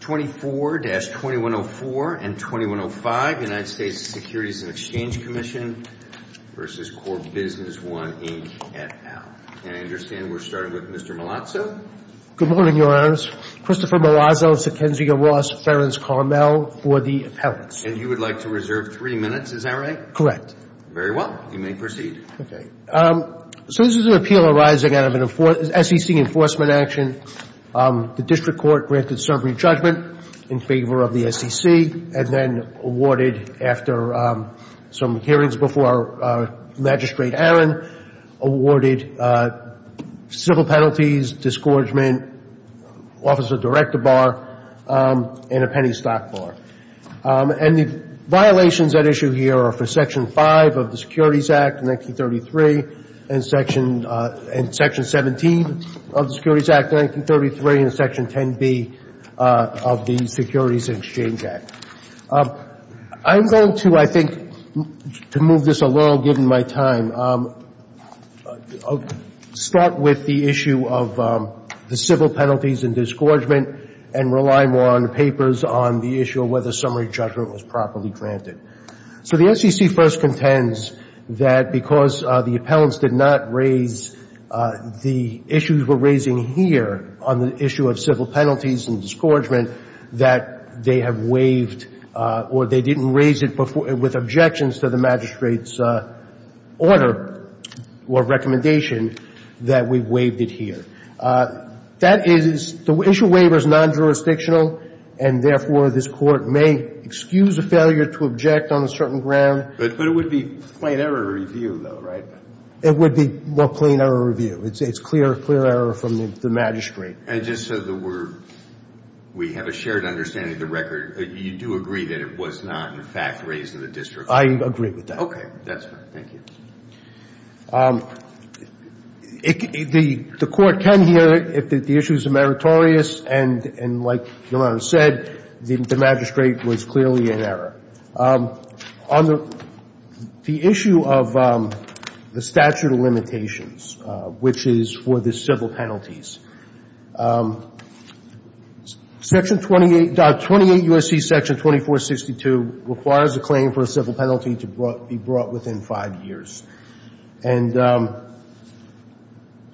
24-2104 and 2105 United States Securities & Exchange Commission v. Corp. Business I, Inc. et al. And I understand we're starting with Mr. Malazzo. Good morning, Your Honors. Christopher Malazzo, Sykensia Ross, Ferens Carmel for the appellants. And you would like to reserve three minutes, is that right? Correct. Very well. You may proceed. Okay. So this is an appeal arising out of an SEC enforcement action. The district court granted summary judgment in favor of the SEC, and then awarded after some hearings before Magistrate Aron, awarded civil penalties, disgorgement, officer director bar, and a penny stock bar. And the violations at issue here are for Section 5 of the Securities Act of 1933 and Section 17 of the Securities Act of 1933 and Section 10b of the Securities & Exchange Act. I'm going to, I think, to move this along, given my time, start with the issue of the civil penalties and disgorgement and rely more on the papers on the issue of whether summary judgment was properly granted. So the SEC first contends that because the appellants did not raise the issues we're raising here on the issue of civil penalties and disgorgement, that they have waived or they didn't raise it with objections to the magistrate's order or recommendation, that we waived it here. That is, the issue waiver is non-jurisdictional, and therefore this Court may excuse a failure to object on a certain ground. But it would be plain error review, though, right? It would be more plain error review. It's clear error from the magistrate. And just so that we're, we have a shared understanding of the record, you do agree that it was not, in fact, raised in the district court? I agree with that. Okay. That's fine. Thank you. The Court can hear if the issues are meritorious. And like Your Honor said, the magistrate was clearly in error. On the issue of the statute of limitations, which is for the civil penalties, Section 28, 28 U.S.C. Section 2462 requires a claim for a civil penalty to be brought within five years. And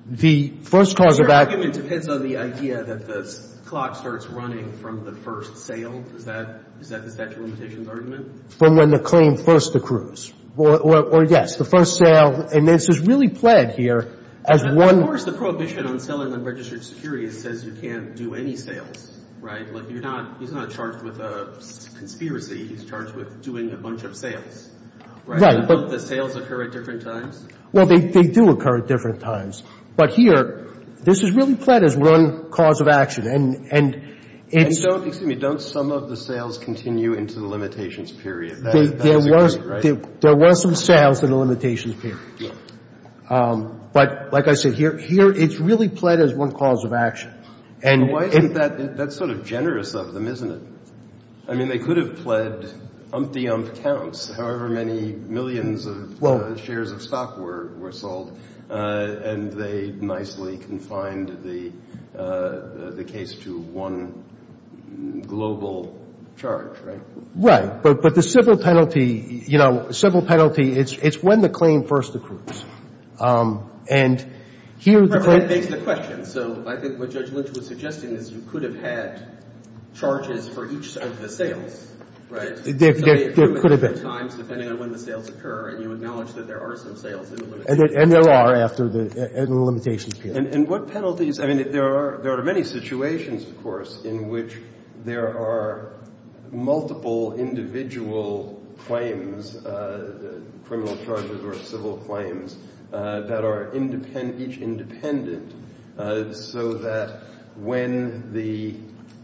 the first cause of action of that. Your argument depends on the idea that the clock starts running from the first sale. Is that, is that the statute of limitations argument? From when the claim first accrues. Or, yes, the first sale. And this is really pled here as one. Of course, the prohibition on selling unregistered securities says you can't do any sales, right? Like, you're not, he's not charged with a conspiracy. He's charged with doing a bunch of sales, right? Right. But don't the sales occur at different times? Well, they do occur at different times. But here, this is really pled as one cause of action. And, and it's. And don't, excuse me, don't some of the sales continue into the limitations period? There was, there was some sales in the limitations period. Yes. But like I said, here, here it's really pled as one cause of action. And it. But why isn't that, that's sort of generous of them, isn't it? I mean, they could have pled umpty ump counts, however many millions of shares of stock were, were sold. And they nicely confined the, the case to one global charge, right? Right. But, but the civil penalty, you know, civil penalty, it's, it's when the claim first accrues. And here. That begs the question. So I think what Judge Lynch was suggesting is you could have had charges for each of the sales, right? There, there could have been. So they accrue at different times depending on when the sales occur. And you acknowledge that there are some sales in the limitations period. And there are after the, in the limitations period. And, and what penalties? I mean, there are, there are many situations, of course, in which there are multiple individual claims, criminal charges or civil claims, that are independent, each independent. So that when the,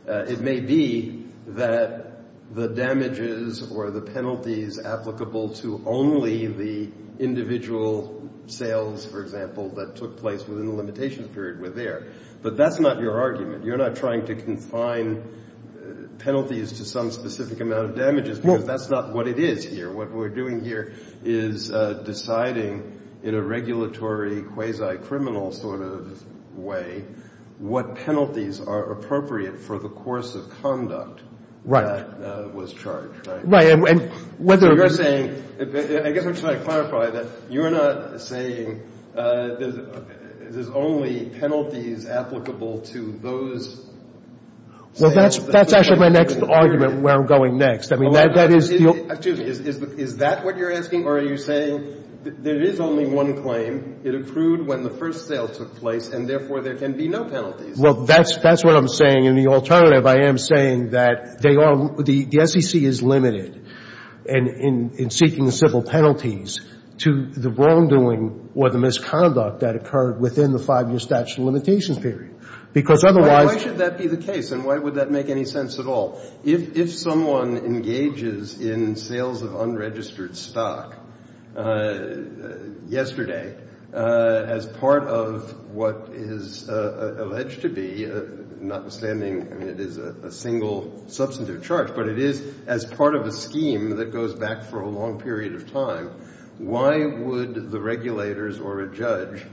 it may be that the damages or the penalties applicable to only the individual sales, for example, that took place within the limitations period were there. But that's not your argument. You're not trying to confine penalties to some specific amount of damages. No. Because that's not what it is here. What we're doing here is deciding in a regulatory quasi-criminal sort of way what penalties are appropriate for the course of conduct. Right. That was charged, right? Right. And whether. So you're saying, I guess I'm trying to clarify that you're not saying there's only penalties applicable to those sales. Well, that's, that's actually my next argument where I'm going next. I mean, that is. Excuse me. Is that what you're asking? Or are you saying there is only one claim. It accrued when the first sale took place. And therefore, there can be no penalties. Well, that's, that's what I'm saying. In the alternative, I am saying that they are, the SEC is limited in, in seeking the civil penalties to the wrongdoing or the misconduct that occurred within the five-year statute of limitations period. Because otherwise. Why should that be the case? And why would that make any sense at all? If, if someone engages in sales of unregistered stock yesterday as part of what is alleged to be, notwithstanding, I mean, it is a single substantive charge, but it is as part of a scheme that goes back for a long period of time, why would the regulators or a judge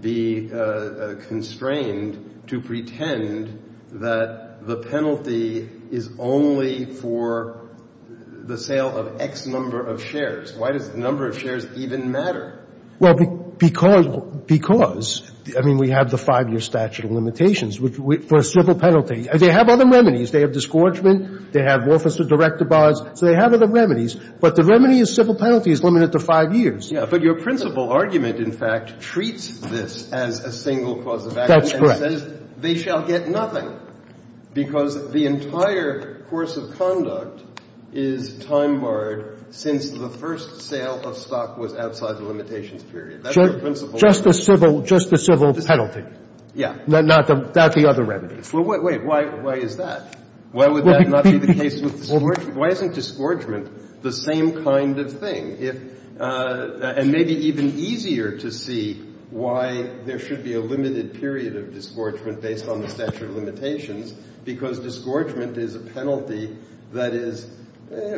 be constrained to pretend that the penalty is only for the sale of X number of shares? Why does the number of shares even matter? Well, because, because, I mean, we have the five-year statute of limitations for a civil penalty. They have other remedies. They have disgorgement. They have officer-director bars. So they have other remedies. But the remedy of civil penalty is limited to five years. Yeah. But your principal argument, in fact, treats this as a single cause of action. That's correct. And says they shall get nothing, because the entire course of conduct is time-barred since the first sale of stock was outside the limitations period. That's your principal argument. Just the civil, just the civil penalty. Yeah. Not the, not the other remedies. Well, wait, wait. Why, why is that? Why would that not be the case with disgorgement? Because in that case, if you look at the penalty of disgorgement, it is the same kind of thing. If, and maybe even easier to see why there should be a limited period of disgorgement based on the statute of limitations, because disgorgement is a penalty that is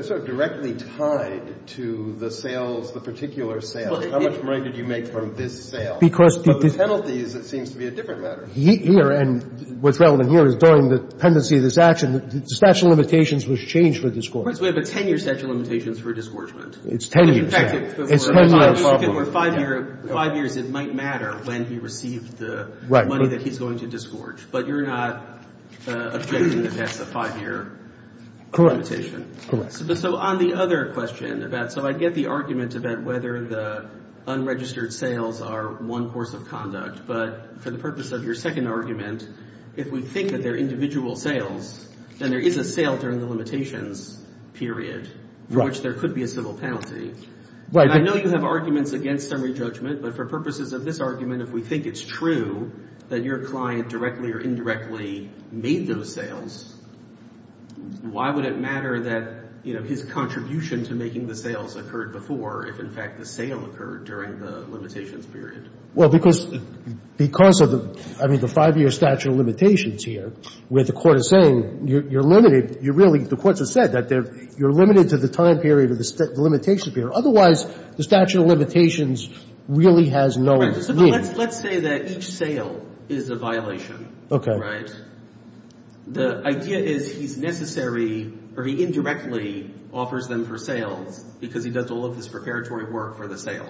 sort of directly tied to the sales, the particular sale. How much money did you make from this sale? Because the penalties, it seems to be a different matter. Here, and what's relevant here is during the pendency of this action, the statute of limitations was changed for disgorgement. We have a 10-year statute of limitations for disgorgement. It's 10 years. In fact, if it were five years, it might matter when he received the money that he's going to disgorge. But you're not objecting that that's a five-year limitation. Correct. So on the other question, so I get the argument about whether the unregistered sales are one course of conduct. But for the purpose of your second argument, if we think that they're individual sales, then there is a sale during the limitations period in which there could be a civil penalty. Right. I know you have arguments against summary judgment, but for purposes of this argument, if we think it's true that your client directly or indirectly made those sales, why would it matter that, you know, his contribution to making the sales occurred before if, in fact, the sale occurred during the limitations period? Well, because of the — I mean, the five-year statute of limitations here, where the Court is saying you're limited, you're really — the Court has said that you're limited to the time period of the limitation period. Otherwise, the statute of limitations really has no meaning. Right. So let's say that each sale is a violation. Okay. Right? The idea is he's necessary — or he indirectly offers them for sales because he does all of his preparatory work for the sale.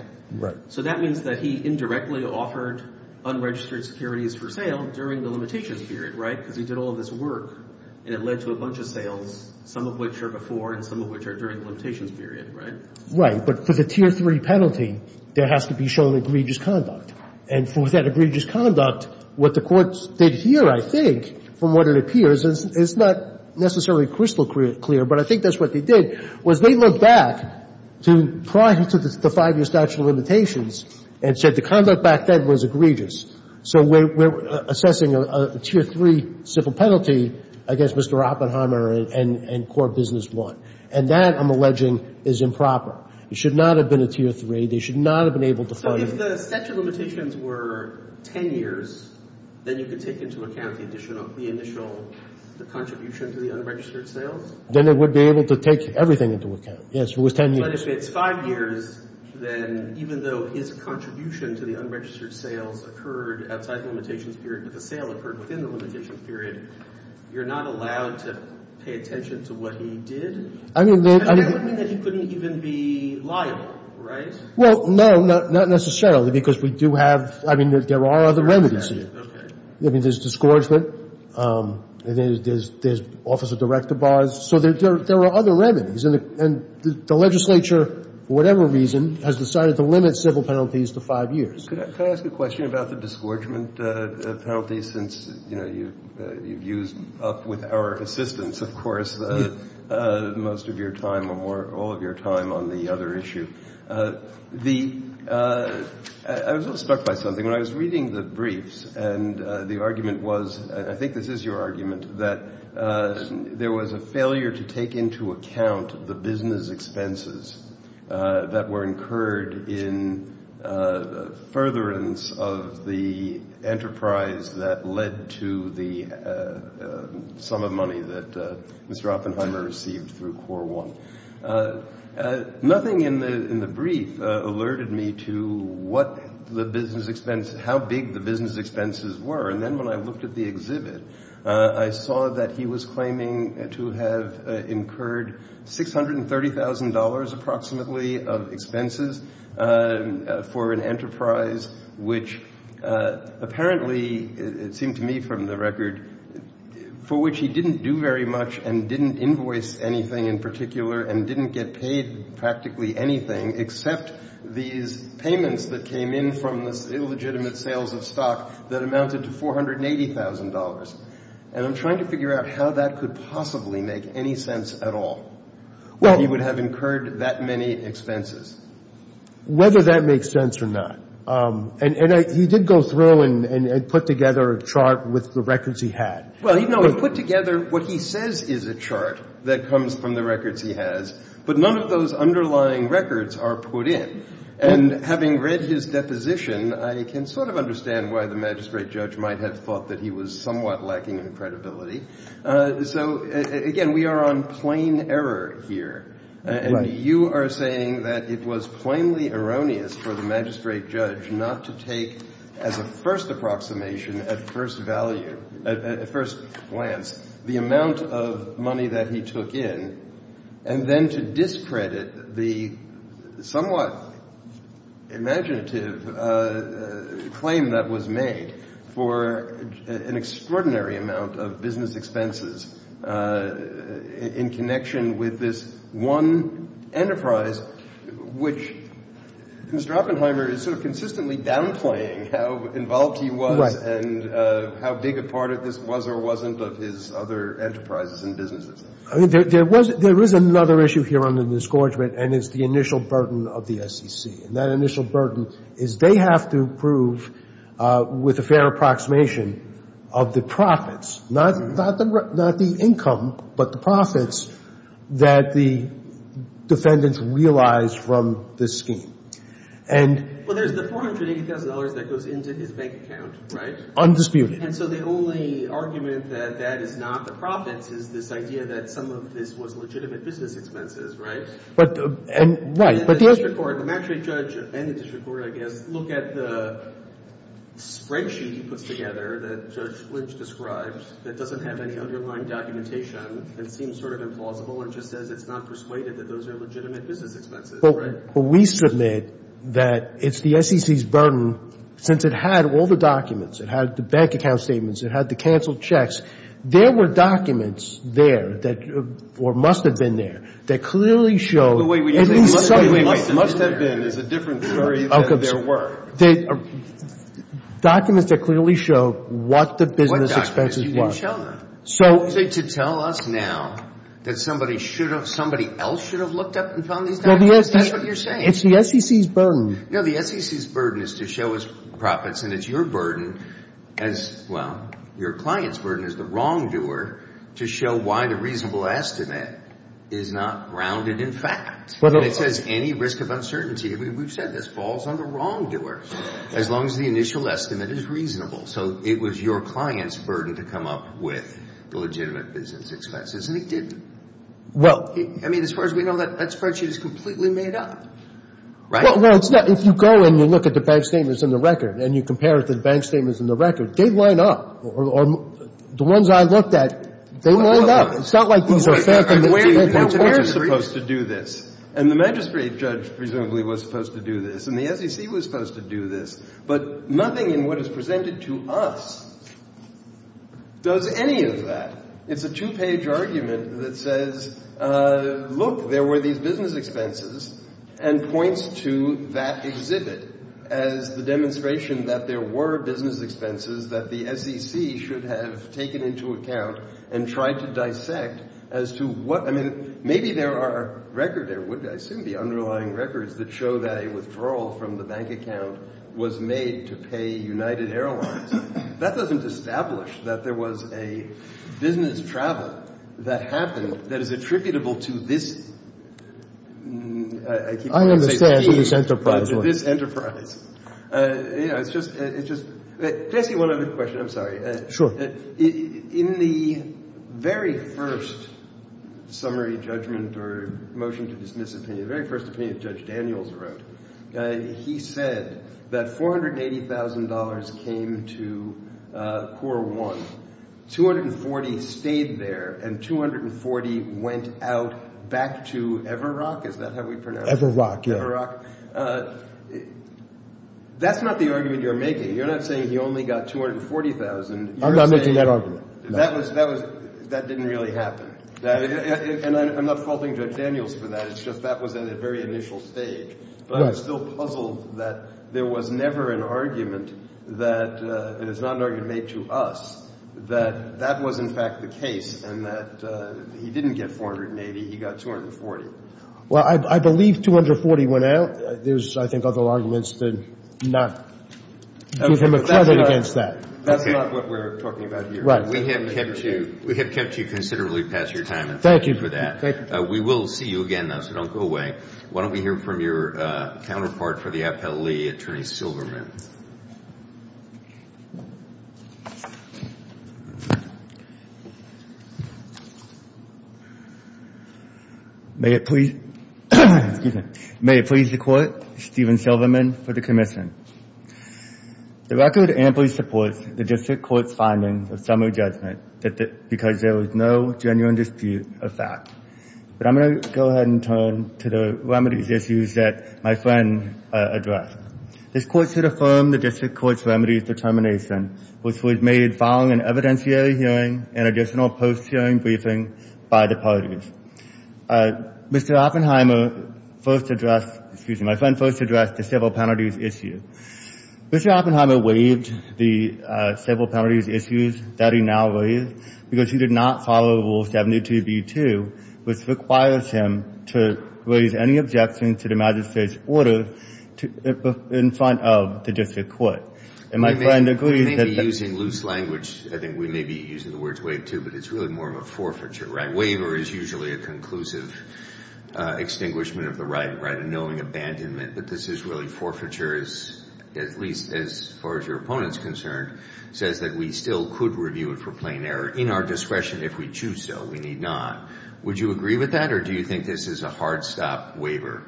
So that means that he indirectly offered unregistered securities for sale during the limitations period. Right? Because he did all of his work, and it led to a bunch of sales, some of which are before and some of which are during the limitations period. Right? Right. But for the Tier 3 penalty, there has to be shown egregious conduct. And for that egregious conduct, what the courts did here, I think, from what it appears — and it's not necessarily crystal clear, but I think that's what they did — was they looked back to prior to the five-year statute of limitations and said the conduct back then was egregious. So we're assessing a Tier 3 civil penalty against Mr. Oppenheimer and core business one. And that, I'm alleging, is improper. It should not have been a Tier 3. They should not have been able to find — So if the statute of limitations were 10 years, then you could take into account the additional — the initial contribution to the unregistered sales? Then they would be able to take everything into account. Yes, if it was 10 years. So let's say it's five years, then even though his contribution to the unregistered sales occurred outside the limitations period, but the sale occurred within the limitations period, you're not allowed to pay attention to what he did? I mean — And that would mean that he couldn't even be liable, right? Well, no, not necessarily, because we do have — I mean, there are other remedies here. Okay. I mean, there's disgorgement. There's officer-director bars. So there are other remedies, and the legislature, for whatever reason, has decided to limit civil penalties to five years. Could I ask a question about the disgorgement penalty since, you know, you've used up with our assistance, of course, most of your time or all of your time on the other issue? I was a little struck by something. When I was reading the briefs, and the argument was — and I think this is your argument — that there was a failure to take into account the business expenses that were incurred in furtherance of the enterprise that led to the sum of money that Mr. Oppenheimer received through Core 1. Nothing in the brief alerted me to what the business expense — how big the business expenses were. And then when I looked at the exhibit, I saw that he was claiming to have incurred $630,000 approximately of expenses for an enterprise which apparently, it seemed to me from the record, for which he didn't do very much and didn't invoice anything in particular and didn't get paid practically anything except these payments that came in from this illegitimate sales of stock that amounted to $480,000. And I'm trying to figure out how that could possibly make any sense at all, that he would have incurred that many expenses. Whether that makes sense or not. And he did go through and put together a chart with the records he had. Well, he put together what he says is a chart that comes from the records he has, but none of those underlying records are put in. And having read his deposition, I can sort of understand why the magistrate judge might have thought that he was somewhat lacking in credibility. So, again, we are on plain error here. And you are saying that it was plainly erroneous for the magistrate judge not to take as a first approximation, at first value, at first glance, the amount of money that he took in, and then to discredit the somewhat imaginative claim that was made for an extraordinary amount of business expenses in connection with this one enterprise which Mr. Oppenheimer is sort of consistently downplaying how involved he was and how big a part of this was or wasn't of his other enterprises and businesses. I mean, there was another issue here under the discouragement, and it's the initial burden of the SEC. And that initial burden is they have to prove with a fair approximation of the profits, not the income, but the profits, that the defendants realized from this scheme. And — Well, there's the $480,000 that goes into his bank account, right? Undisputed. And so the only argument that that is not the profits is this idea that some of this was legitimate business expenses, right? But — And the district court, the magistrate judge and the district court, I guess, look at the spreadsheet he puts together that Judge Lynch described that doesn't have any underlying documentation and seems sort of implausible and just says it's not persuaded that those are legitimate business expenses, right? Well, we submit that it's the SEC's burden, since it had all the documents. It had the bank account statements. It had the canceled checks. There were documents there that — or must have been there that clearly show — Well, wait. We didn't say must have been. Must have been is a different query than there were. Documents that clearly show what the business expenses were. You didn't show them. So — You want to say to tell us now that somebody else should have looked up and found these That's what you're saying. It's the SEC's burden. No, the SEC's burden is to show us profits, and it's your burden as — well, your client's burden as the wrongdoer to show why the reasonable estimate is not grounded in fact. And it says any risk of uncertainty. We've said this. Falls on the wrongdoer, as long as the initial estimate is reasonable. So it was your client's burden to come up with the legitimate business expenses, and it didn't. Well — I mean, as far as we know, that spreadsheet is completely made up, right? Well, it's not. If you go and you look at the bank statements in the record and you compare it to the bank statements in the record, they line up. The ones I looked at, they lined up. It's not like these are — We're supposed to do this, and the magistrate judge presumably was supposed to do this, and the SEC was supposed to do this. But nothing in what is presented to us does any of that. It's a two-page argument that says, look, there were these business expenses, and points to that exhibit as the demonstration that there were business expenses that the SEC should have taken into account and tried to dissect as to what — I mean, maybe there are record — there would, I assume, be underlying records that show that a withdrawal from the bank account was made to pay United Airlines. That doesn't establish that there was a business travel that happened that is attributable to this — I keep wanting to say — To this enterprise. To this enterprise. It's just — Can I ask you one other question? I'm sorry. Sure. In the very first summary judgment or motion to dismiss opinion, the very first opinion that Judge Daniels wrote, he said that $480,000 came to Corps One. $240,000 stayed there, and $240,000 went out back to Everrock. Is that how we pronounce it? Everrock, yeah. Everrock. That's not the argument you're making. You're not saying he only got $240,000. I'm not making that argument, no. That didn't really happen. And I'm not faulting Judge Daniels for that. It's just that was at a very initial stage. But I'm still puzzled that there was never an argument that — and it's not an argument made to us — that that was, in fact, the case and that he didn't get $480,000. He got $240,000. Well, I believe $240,000 went out. There's, I think, other arguments to not give him a credit against that. That's not what we're talking about here. We have kept you considerably past your time, and thank you for that. We will see you again, though, so don't go away. Why don't we hear from your counterpart for the appellee, Attorney Silverman. May it please the Court, Stephen Silverman for the commission. The record amply supports the District Court's finding of summary judgment because there was no genuine dispute of fact. But I'm going to go ahead and turn to the remedies issues that my friend addressed. This Court should affirm the District Court's remedies determination, which was made following an evidentiary hearing and additional post-hearing briefing by the parties. Mr. Oppenheimer first addressed — excuse me — my friend first addressed the civil penalties issue. Mr. Oppenheimer waived the civil penalties issues that he now waives because he did not follow Rule 72b-2, which requires him to raise any objection to the magistrate's order in front of the District Court. And my friend agrees that — You may be using loose language. I think we may be using the words waive, too, but it's really more of a forfeiture, right? Waiver is usually a conclusive extinguishment of the right, right? A knowing abandonment. But this is really forfeiture, at least as far as your opponent is concerned, says that we still could review it for plain error in our discretion if we choose so. We need not. Would you agree with that, or do you think this is a hard-stop waiver?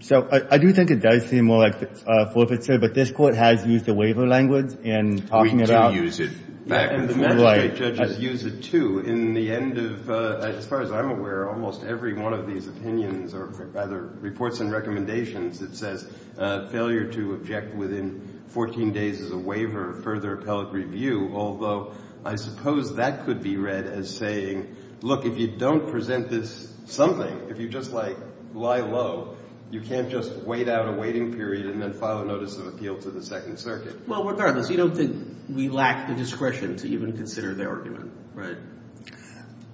So I do think it does seem more like forfeiture, but this Court has used the waiver language in talking about — We do use it back and forth. And the magistrate judges use it, too. In the end of — as far as I'm aware, almost every one of these opinions or, rather, reports and recommendations, it says failure to object within 14 days is a waiver, further appellate review, although I suppose that could be read as saying, look, if you don't present this something, if you just, like, lie low, you can't just wait out a waiting period and then file a notice of appeal to the Second Circuit. Well, regardless, you don't think we lack the discretion to even consider the argument, right?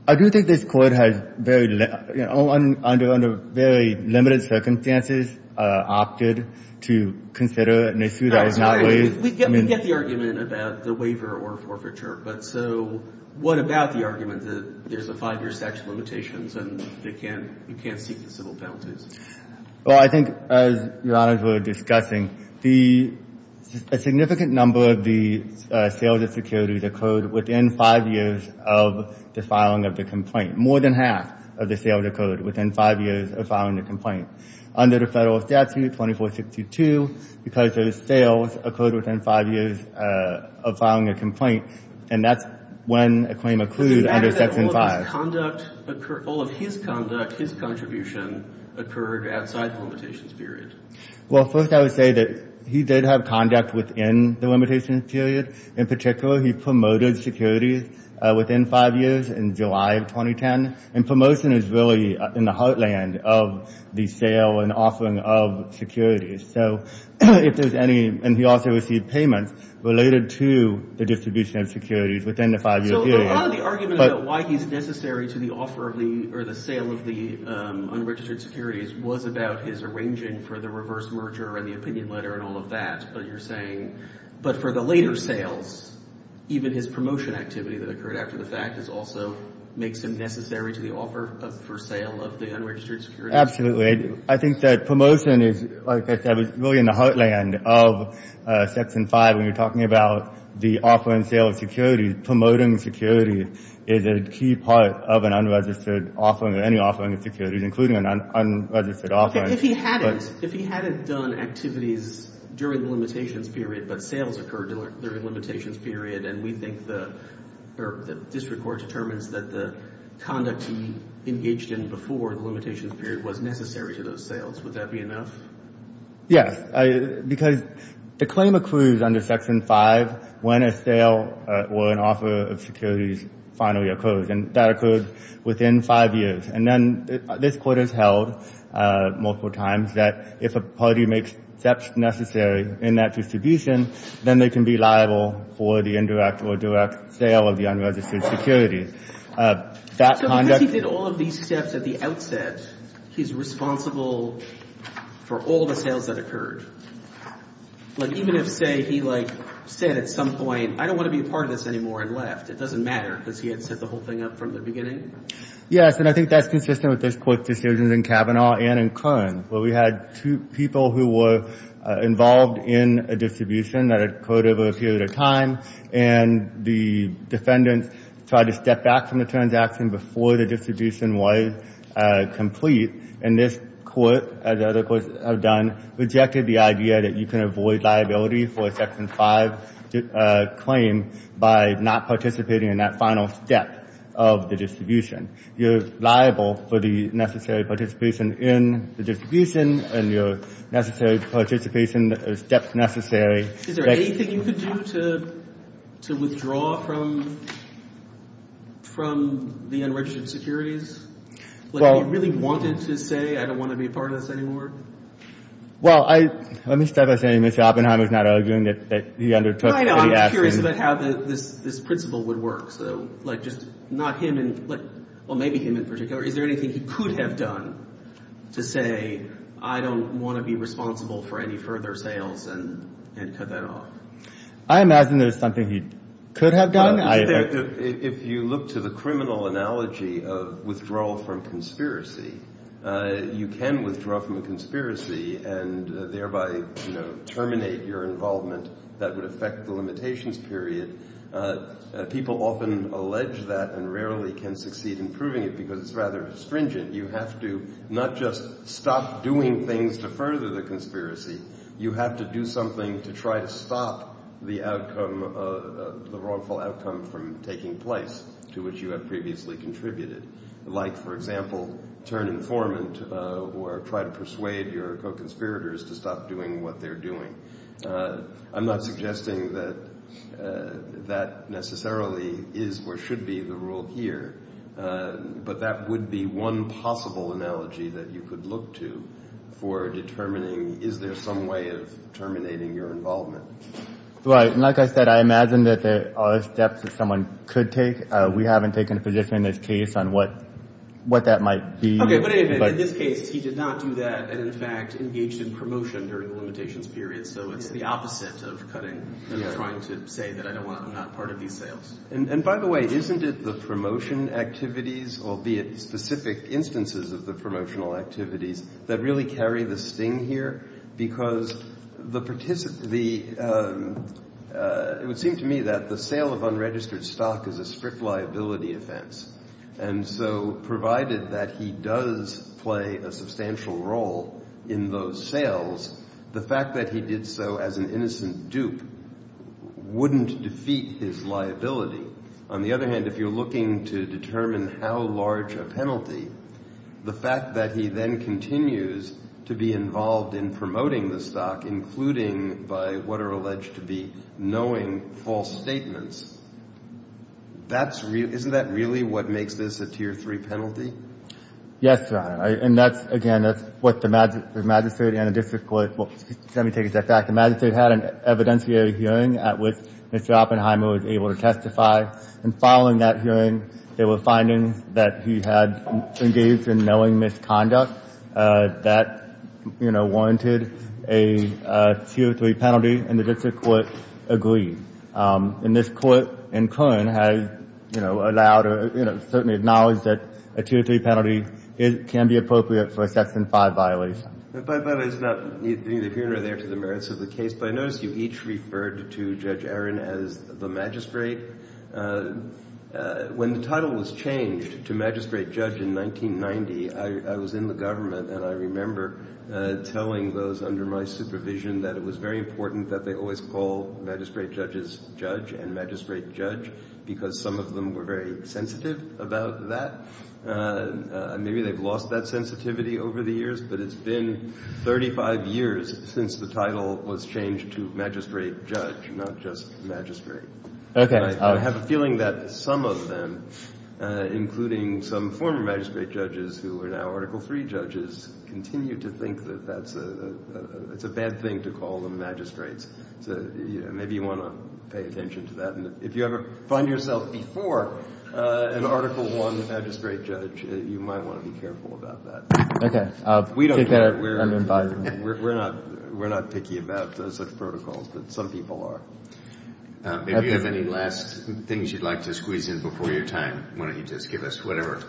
I do think this Court has very — under very limited circumstances opted to consider an issue that is not — We get the argument about the waiver or forfeiture, but so what about the argument that there's a five-year statute of limitations and they can't — you can't seek the civil penalties? Well, I think, as Your Honors were discussing, the — a significant number of the sales of securities occurred within five years of the filing of the complaint. More than half of the sales occurred within five years of filing the complaint. Under the federal statute, 2462, because those sales occurred within five years of filing a complaint, and that's when a claim occluded under Section 5. All of his conduct, his contribution, occurred outside the limitations period. Well, first I would say that he did have conduct within the limitations period. In particular, he promoted securities within five years in July of 2010. And promotion is really in the heartland of the sale and offering of securities. So if there's any — and he also received payments related to the distribution of securities within the five-year period. So a lot of the argument about why he's necessary to the offer of the — or the sale of the unregistered securities was about his arranging for the reverse merger and the opinion letter and all of that. But you're saying — but for the later sales, even his promotion activity that occurred after the fact also makes him necessary to the offer for sale of the unregistered securities? Absolutely. I think that promotion is, like I said, really in the heartland of Section 5 when you're talking about the offer and sale of securities, promoting security is a key part of an unregistered offering or any offering of securities, including an unregistered offering. If he hadn't — if he hadn't done activities during the limitations period but sales occurred during the limitations period and we think the — or the district court determines that the conduct he engaged in before the limitations period was necessary to those sales, would that be enough? Yes. Because the claim accrues under Section 5 when a sale or an offer of securities finally occurs. And that occurred within five years. And then this Court has held multiple times that if a party makes steps necessary in that distribution, then they can be liable for the indirect or direct sale of the unregistered securities. That conduct — So because he did all of these steps at the outset, he's responsible for all the sales that occurred? Like even if, say, he, like, said at some point, I don't want to be a part of this anymore and left. It doesn't matter because he had set the whole thing up from the beginning? Yes, and I think that's consistent with this Court's decisions in Kavanaugh and in Kern, where we had two people who were involved in a distribution that occurred over a period of time, and the defendants tried to step back from the transaction before the distribution was complete. And this Court, as other courts have done, rejected the idea that you can avoid liability for a Section 5 claim by not participating in that final step of the distribution. You're liable for the necessary participation in the distribution and your necessary participation or steps necessary. Is there anything you could do to withdraw from the unregistered securities? Like, if he really wanted to say, I don't want to be a part of this anymore? Well, let me start by saying Mr. Oppenheimer is not arguing that he undertook the action. I know. I'm just curious about how this principle would work. So, like, just not him in, like, well, maybe him in particular. Is there anything he could have done to say, I don't want to be responsible for any further sales and cut that off? I imagine there's something he could have done. If you look to the criminal analogy of withdrawal from conspiracy, you can withdraw from a conspiracy and thereby, you know, terminate your involvement that would affect the limitations period. People often allege that and rarely can succeed in proving it because it's rather astringent. You have to not just stop doing things to further the conspiracy. You have to do something to try to stop the outcome, the wrongful outcome from taking place to which you have previously contributed. Like, for example, turn informant or try to persuade your co-conspirators to stop doing what they're doing. I'm not suggesting that that necessarily is or should be the rule here, but that would be one possible analogy that you could look to for determining is there some way of terminating your involvement. Like I said, I imagine that there are steps that someone could take. We haven't taken a position in this case on what that might be. In this case, he did not do that and, in fact, engaged in promotion during the limitations period. So it's the opposite of cutting and trying to say that I'm not part of these sales. And by the way, isn't it the promotion activities, albeit specific instances of the promotional activities, that really carry the sting here? Because it would seem to me that the sale of unregistered stock is a strict liability offense. And so provided that he does play a substantial role in those sales, the fact that he did so as an innocent dupe wouldn't defeat his liability. On the other hand, if you're looking to determine how large a penalty, the fact that he then continues to be involved in promoting the stock, including by what are alleged to be knowing false statements, isn't that really what makes this a Tier 3 penalty? Yes, Your Honor. And that's, again, that's what the magistrate and the district court, well, let me take a step back. The magistrate had an evidentiary hearing at which Mr. Oppenheimer was able to testify. And following that hearing, they were finding that he had engaged in knowing misconduct. That, you know, warranted a Tier 3 penalty, and the district court agreed. And this Court in Kern has, you know, allowed or, you know, certainly acknowledged that a Tier 3 penalty can be appropriate for a Section 5 violation. But it's not in the hearing or there to the merits of the case. But I notice you each referred to Judge Aaron as the magistrate. When the title was changed to magistrate judge in 1990, I was in the government, and I remember telling those under my supervision that it was very important that they always call magistrate judges judge and magistrate judge because some of them were very sensitive about that. Maybe they've lost that sensitivity over the years, but it's been 35 years since the title was changed to magistrate judge, not just magistrate. I have a feeling that some of them, including some former magistrate judges who are now Article 3 judges, continue to think that that's a bad thing to call them magistrates. So maybe you want to pay attention to that. And if you ever find yourself before an Article 1 magistrate judge, you might want to be careful about that. Okay. I'll take that under advisement. We're not picky about such protocols, but some people are. If you have any last things you'd like to squeeze in before your time, why don't you just give us whatever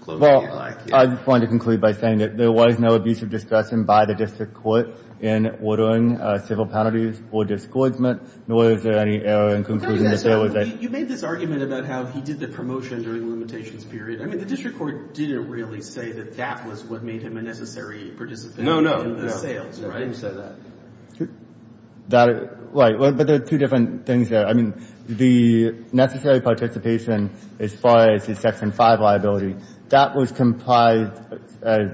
closing you'd like. Well, I wanted to conclude by saying that there was no abusive discretion by the district court in ordering civil penalties or discouragement, nor is there any error in concluding that there was a – You made this argument about how he did the promotion during limitations period. I mean, the district court didn't really say that that was what made him a necessary participant in the sales, right? I didn't say that. That – right. But there are two different things there. I mean, the necessary participation as far as his Section 5 liability, that was complied as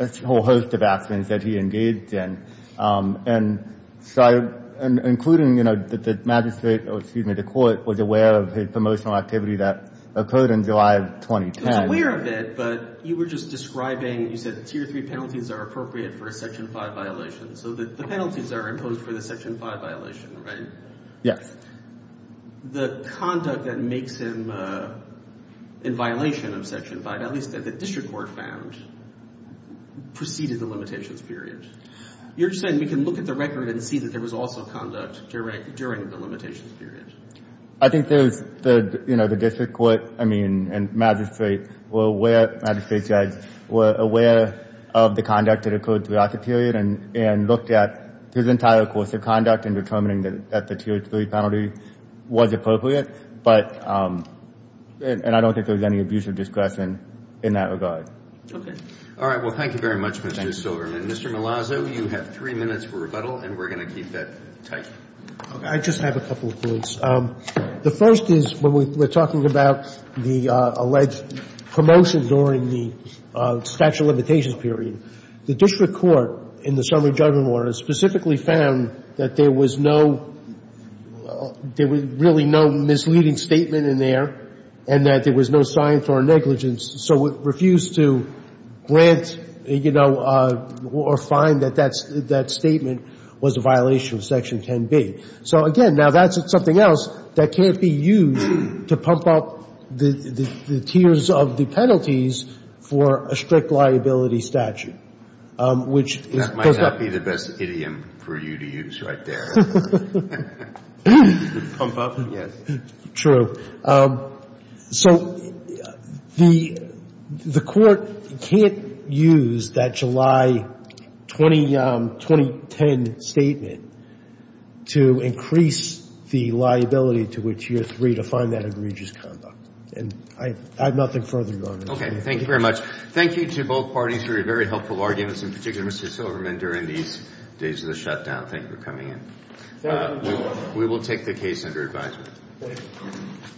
a whole host of actions that he engaged in. And so I – including, you know, that the magistrate – or excuse me, the court was aware of his promotional activity that occurred in July of 2010. He was aware of it, but you were just describing – you said tier 3 penalties are appropriate for a Section 5 violation. So the penalties are imposed for the Section 5 violation, right? Yes. The conduct that makes him in violation of Section 5, at least that the district court found, preceded the limitations period. You're saying we can look at the record and see that there was also conduct during the limitations period. I think there's – you know, the district court, I mean, and magistrate were aware – magistrate judge were aware of the conduct that occurred throughout the period and looked at his entire course of conduct in determining that the tier 3 penalty was appropriate. But – and I don't think there was any abuse of discretion in that regard. Okay. All right. Well, thank you very much, Mr. Silverman. Mr. Malazzo, you have three minutes for rebuttal, and we're going to keep that tight. I just have a couple of points. The first is when we're talking about the alleged promotion during the statute of limitations period. The district court in the summary judgment order specifically found that there was no – there was really no misleading statement in there and that there was no sign for negligence. So it refused to grant, you know, or find that that statement was a violation of Section 10B. So, again, now that's something else that can't be used to pump up the tiers of the penalties for a strict liability statute, which is – That might not be the best idiom for you to use right there. Pump up? Yes. True. So the court can't use that July 2010 statement to increase the liability to which you're free to find that egregious conduct. And I have nothing further to go on. Okay. Thank you very much. Thank you to both parties for your very helpful arguments, in particular, Mr. Silverman, during these days of the shutdown. Thank you for coming in. We will take the case under advisement. Thank you.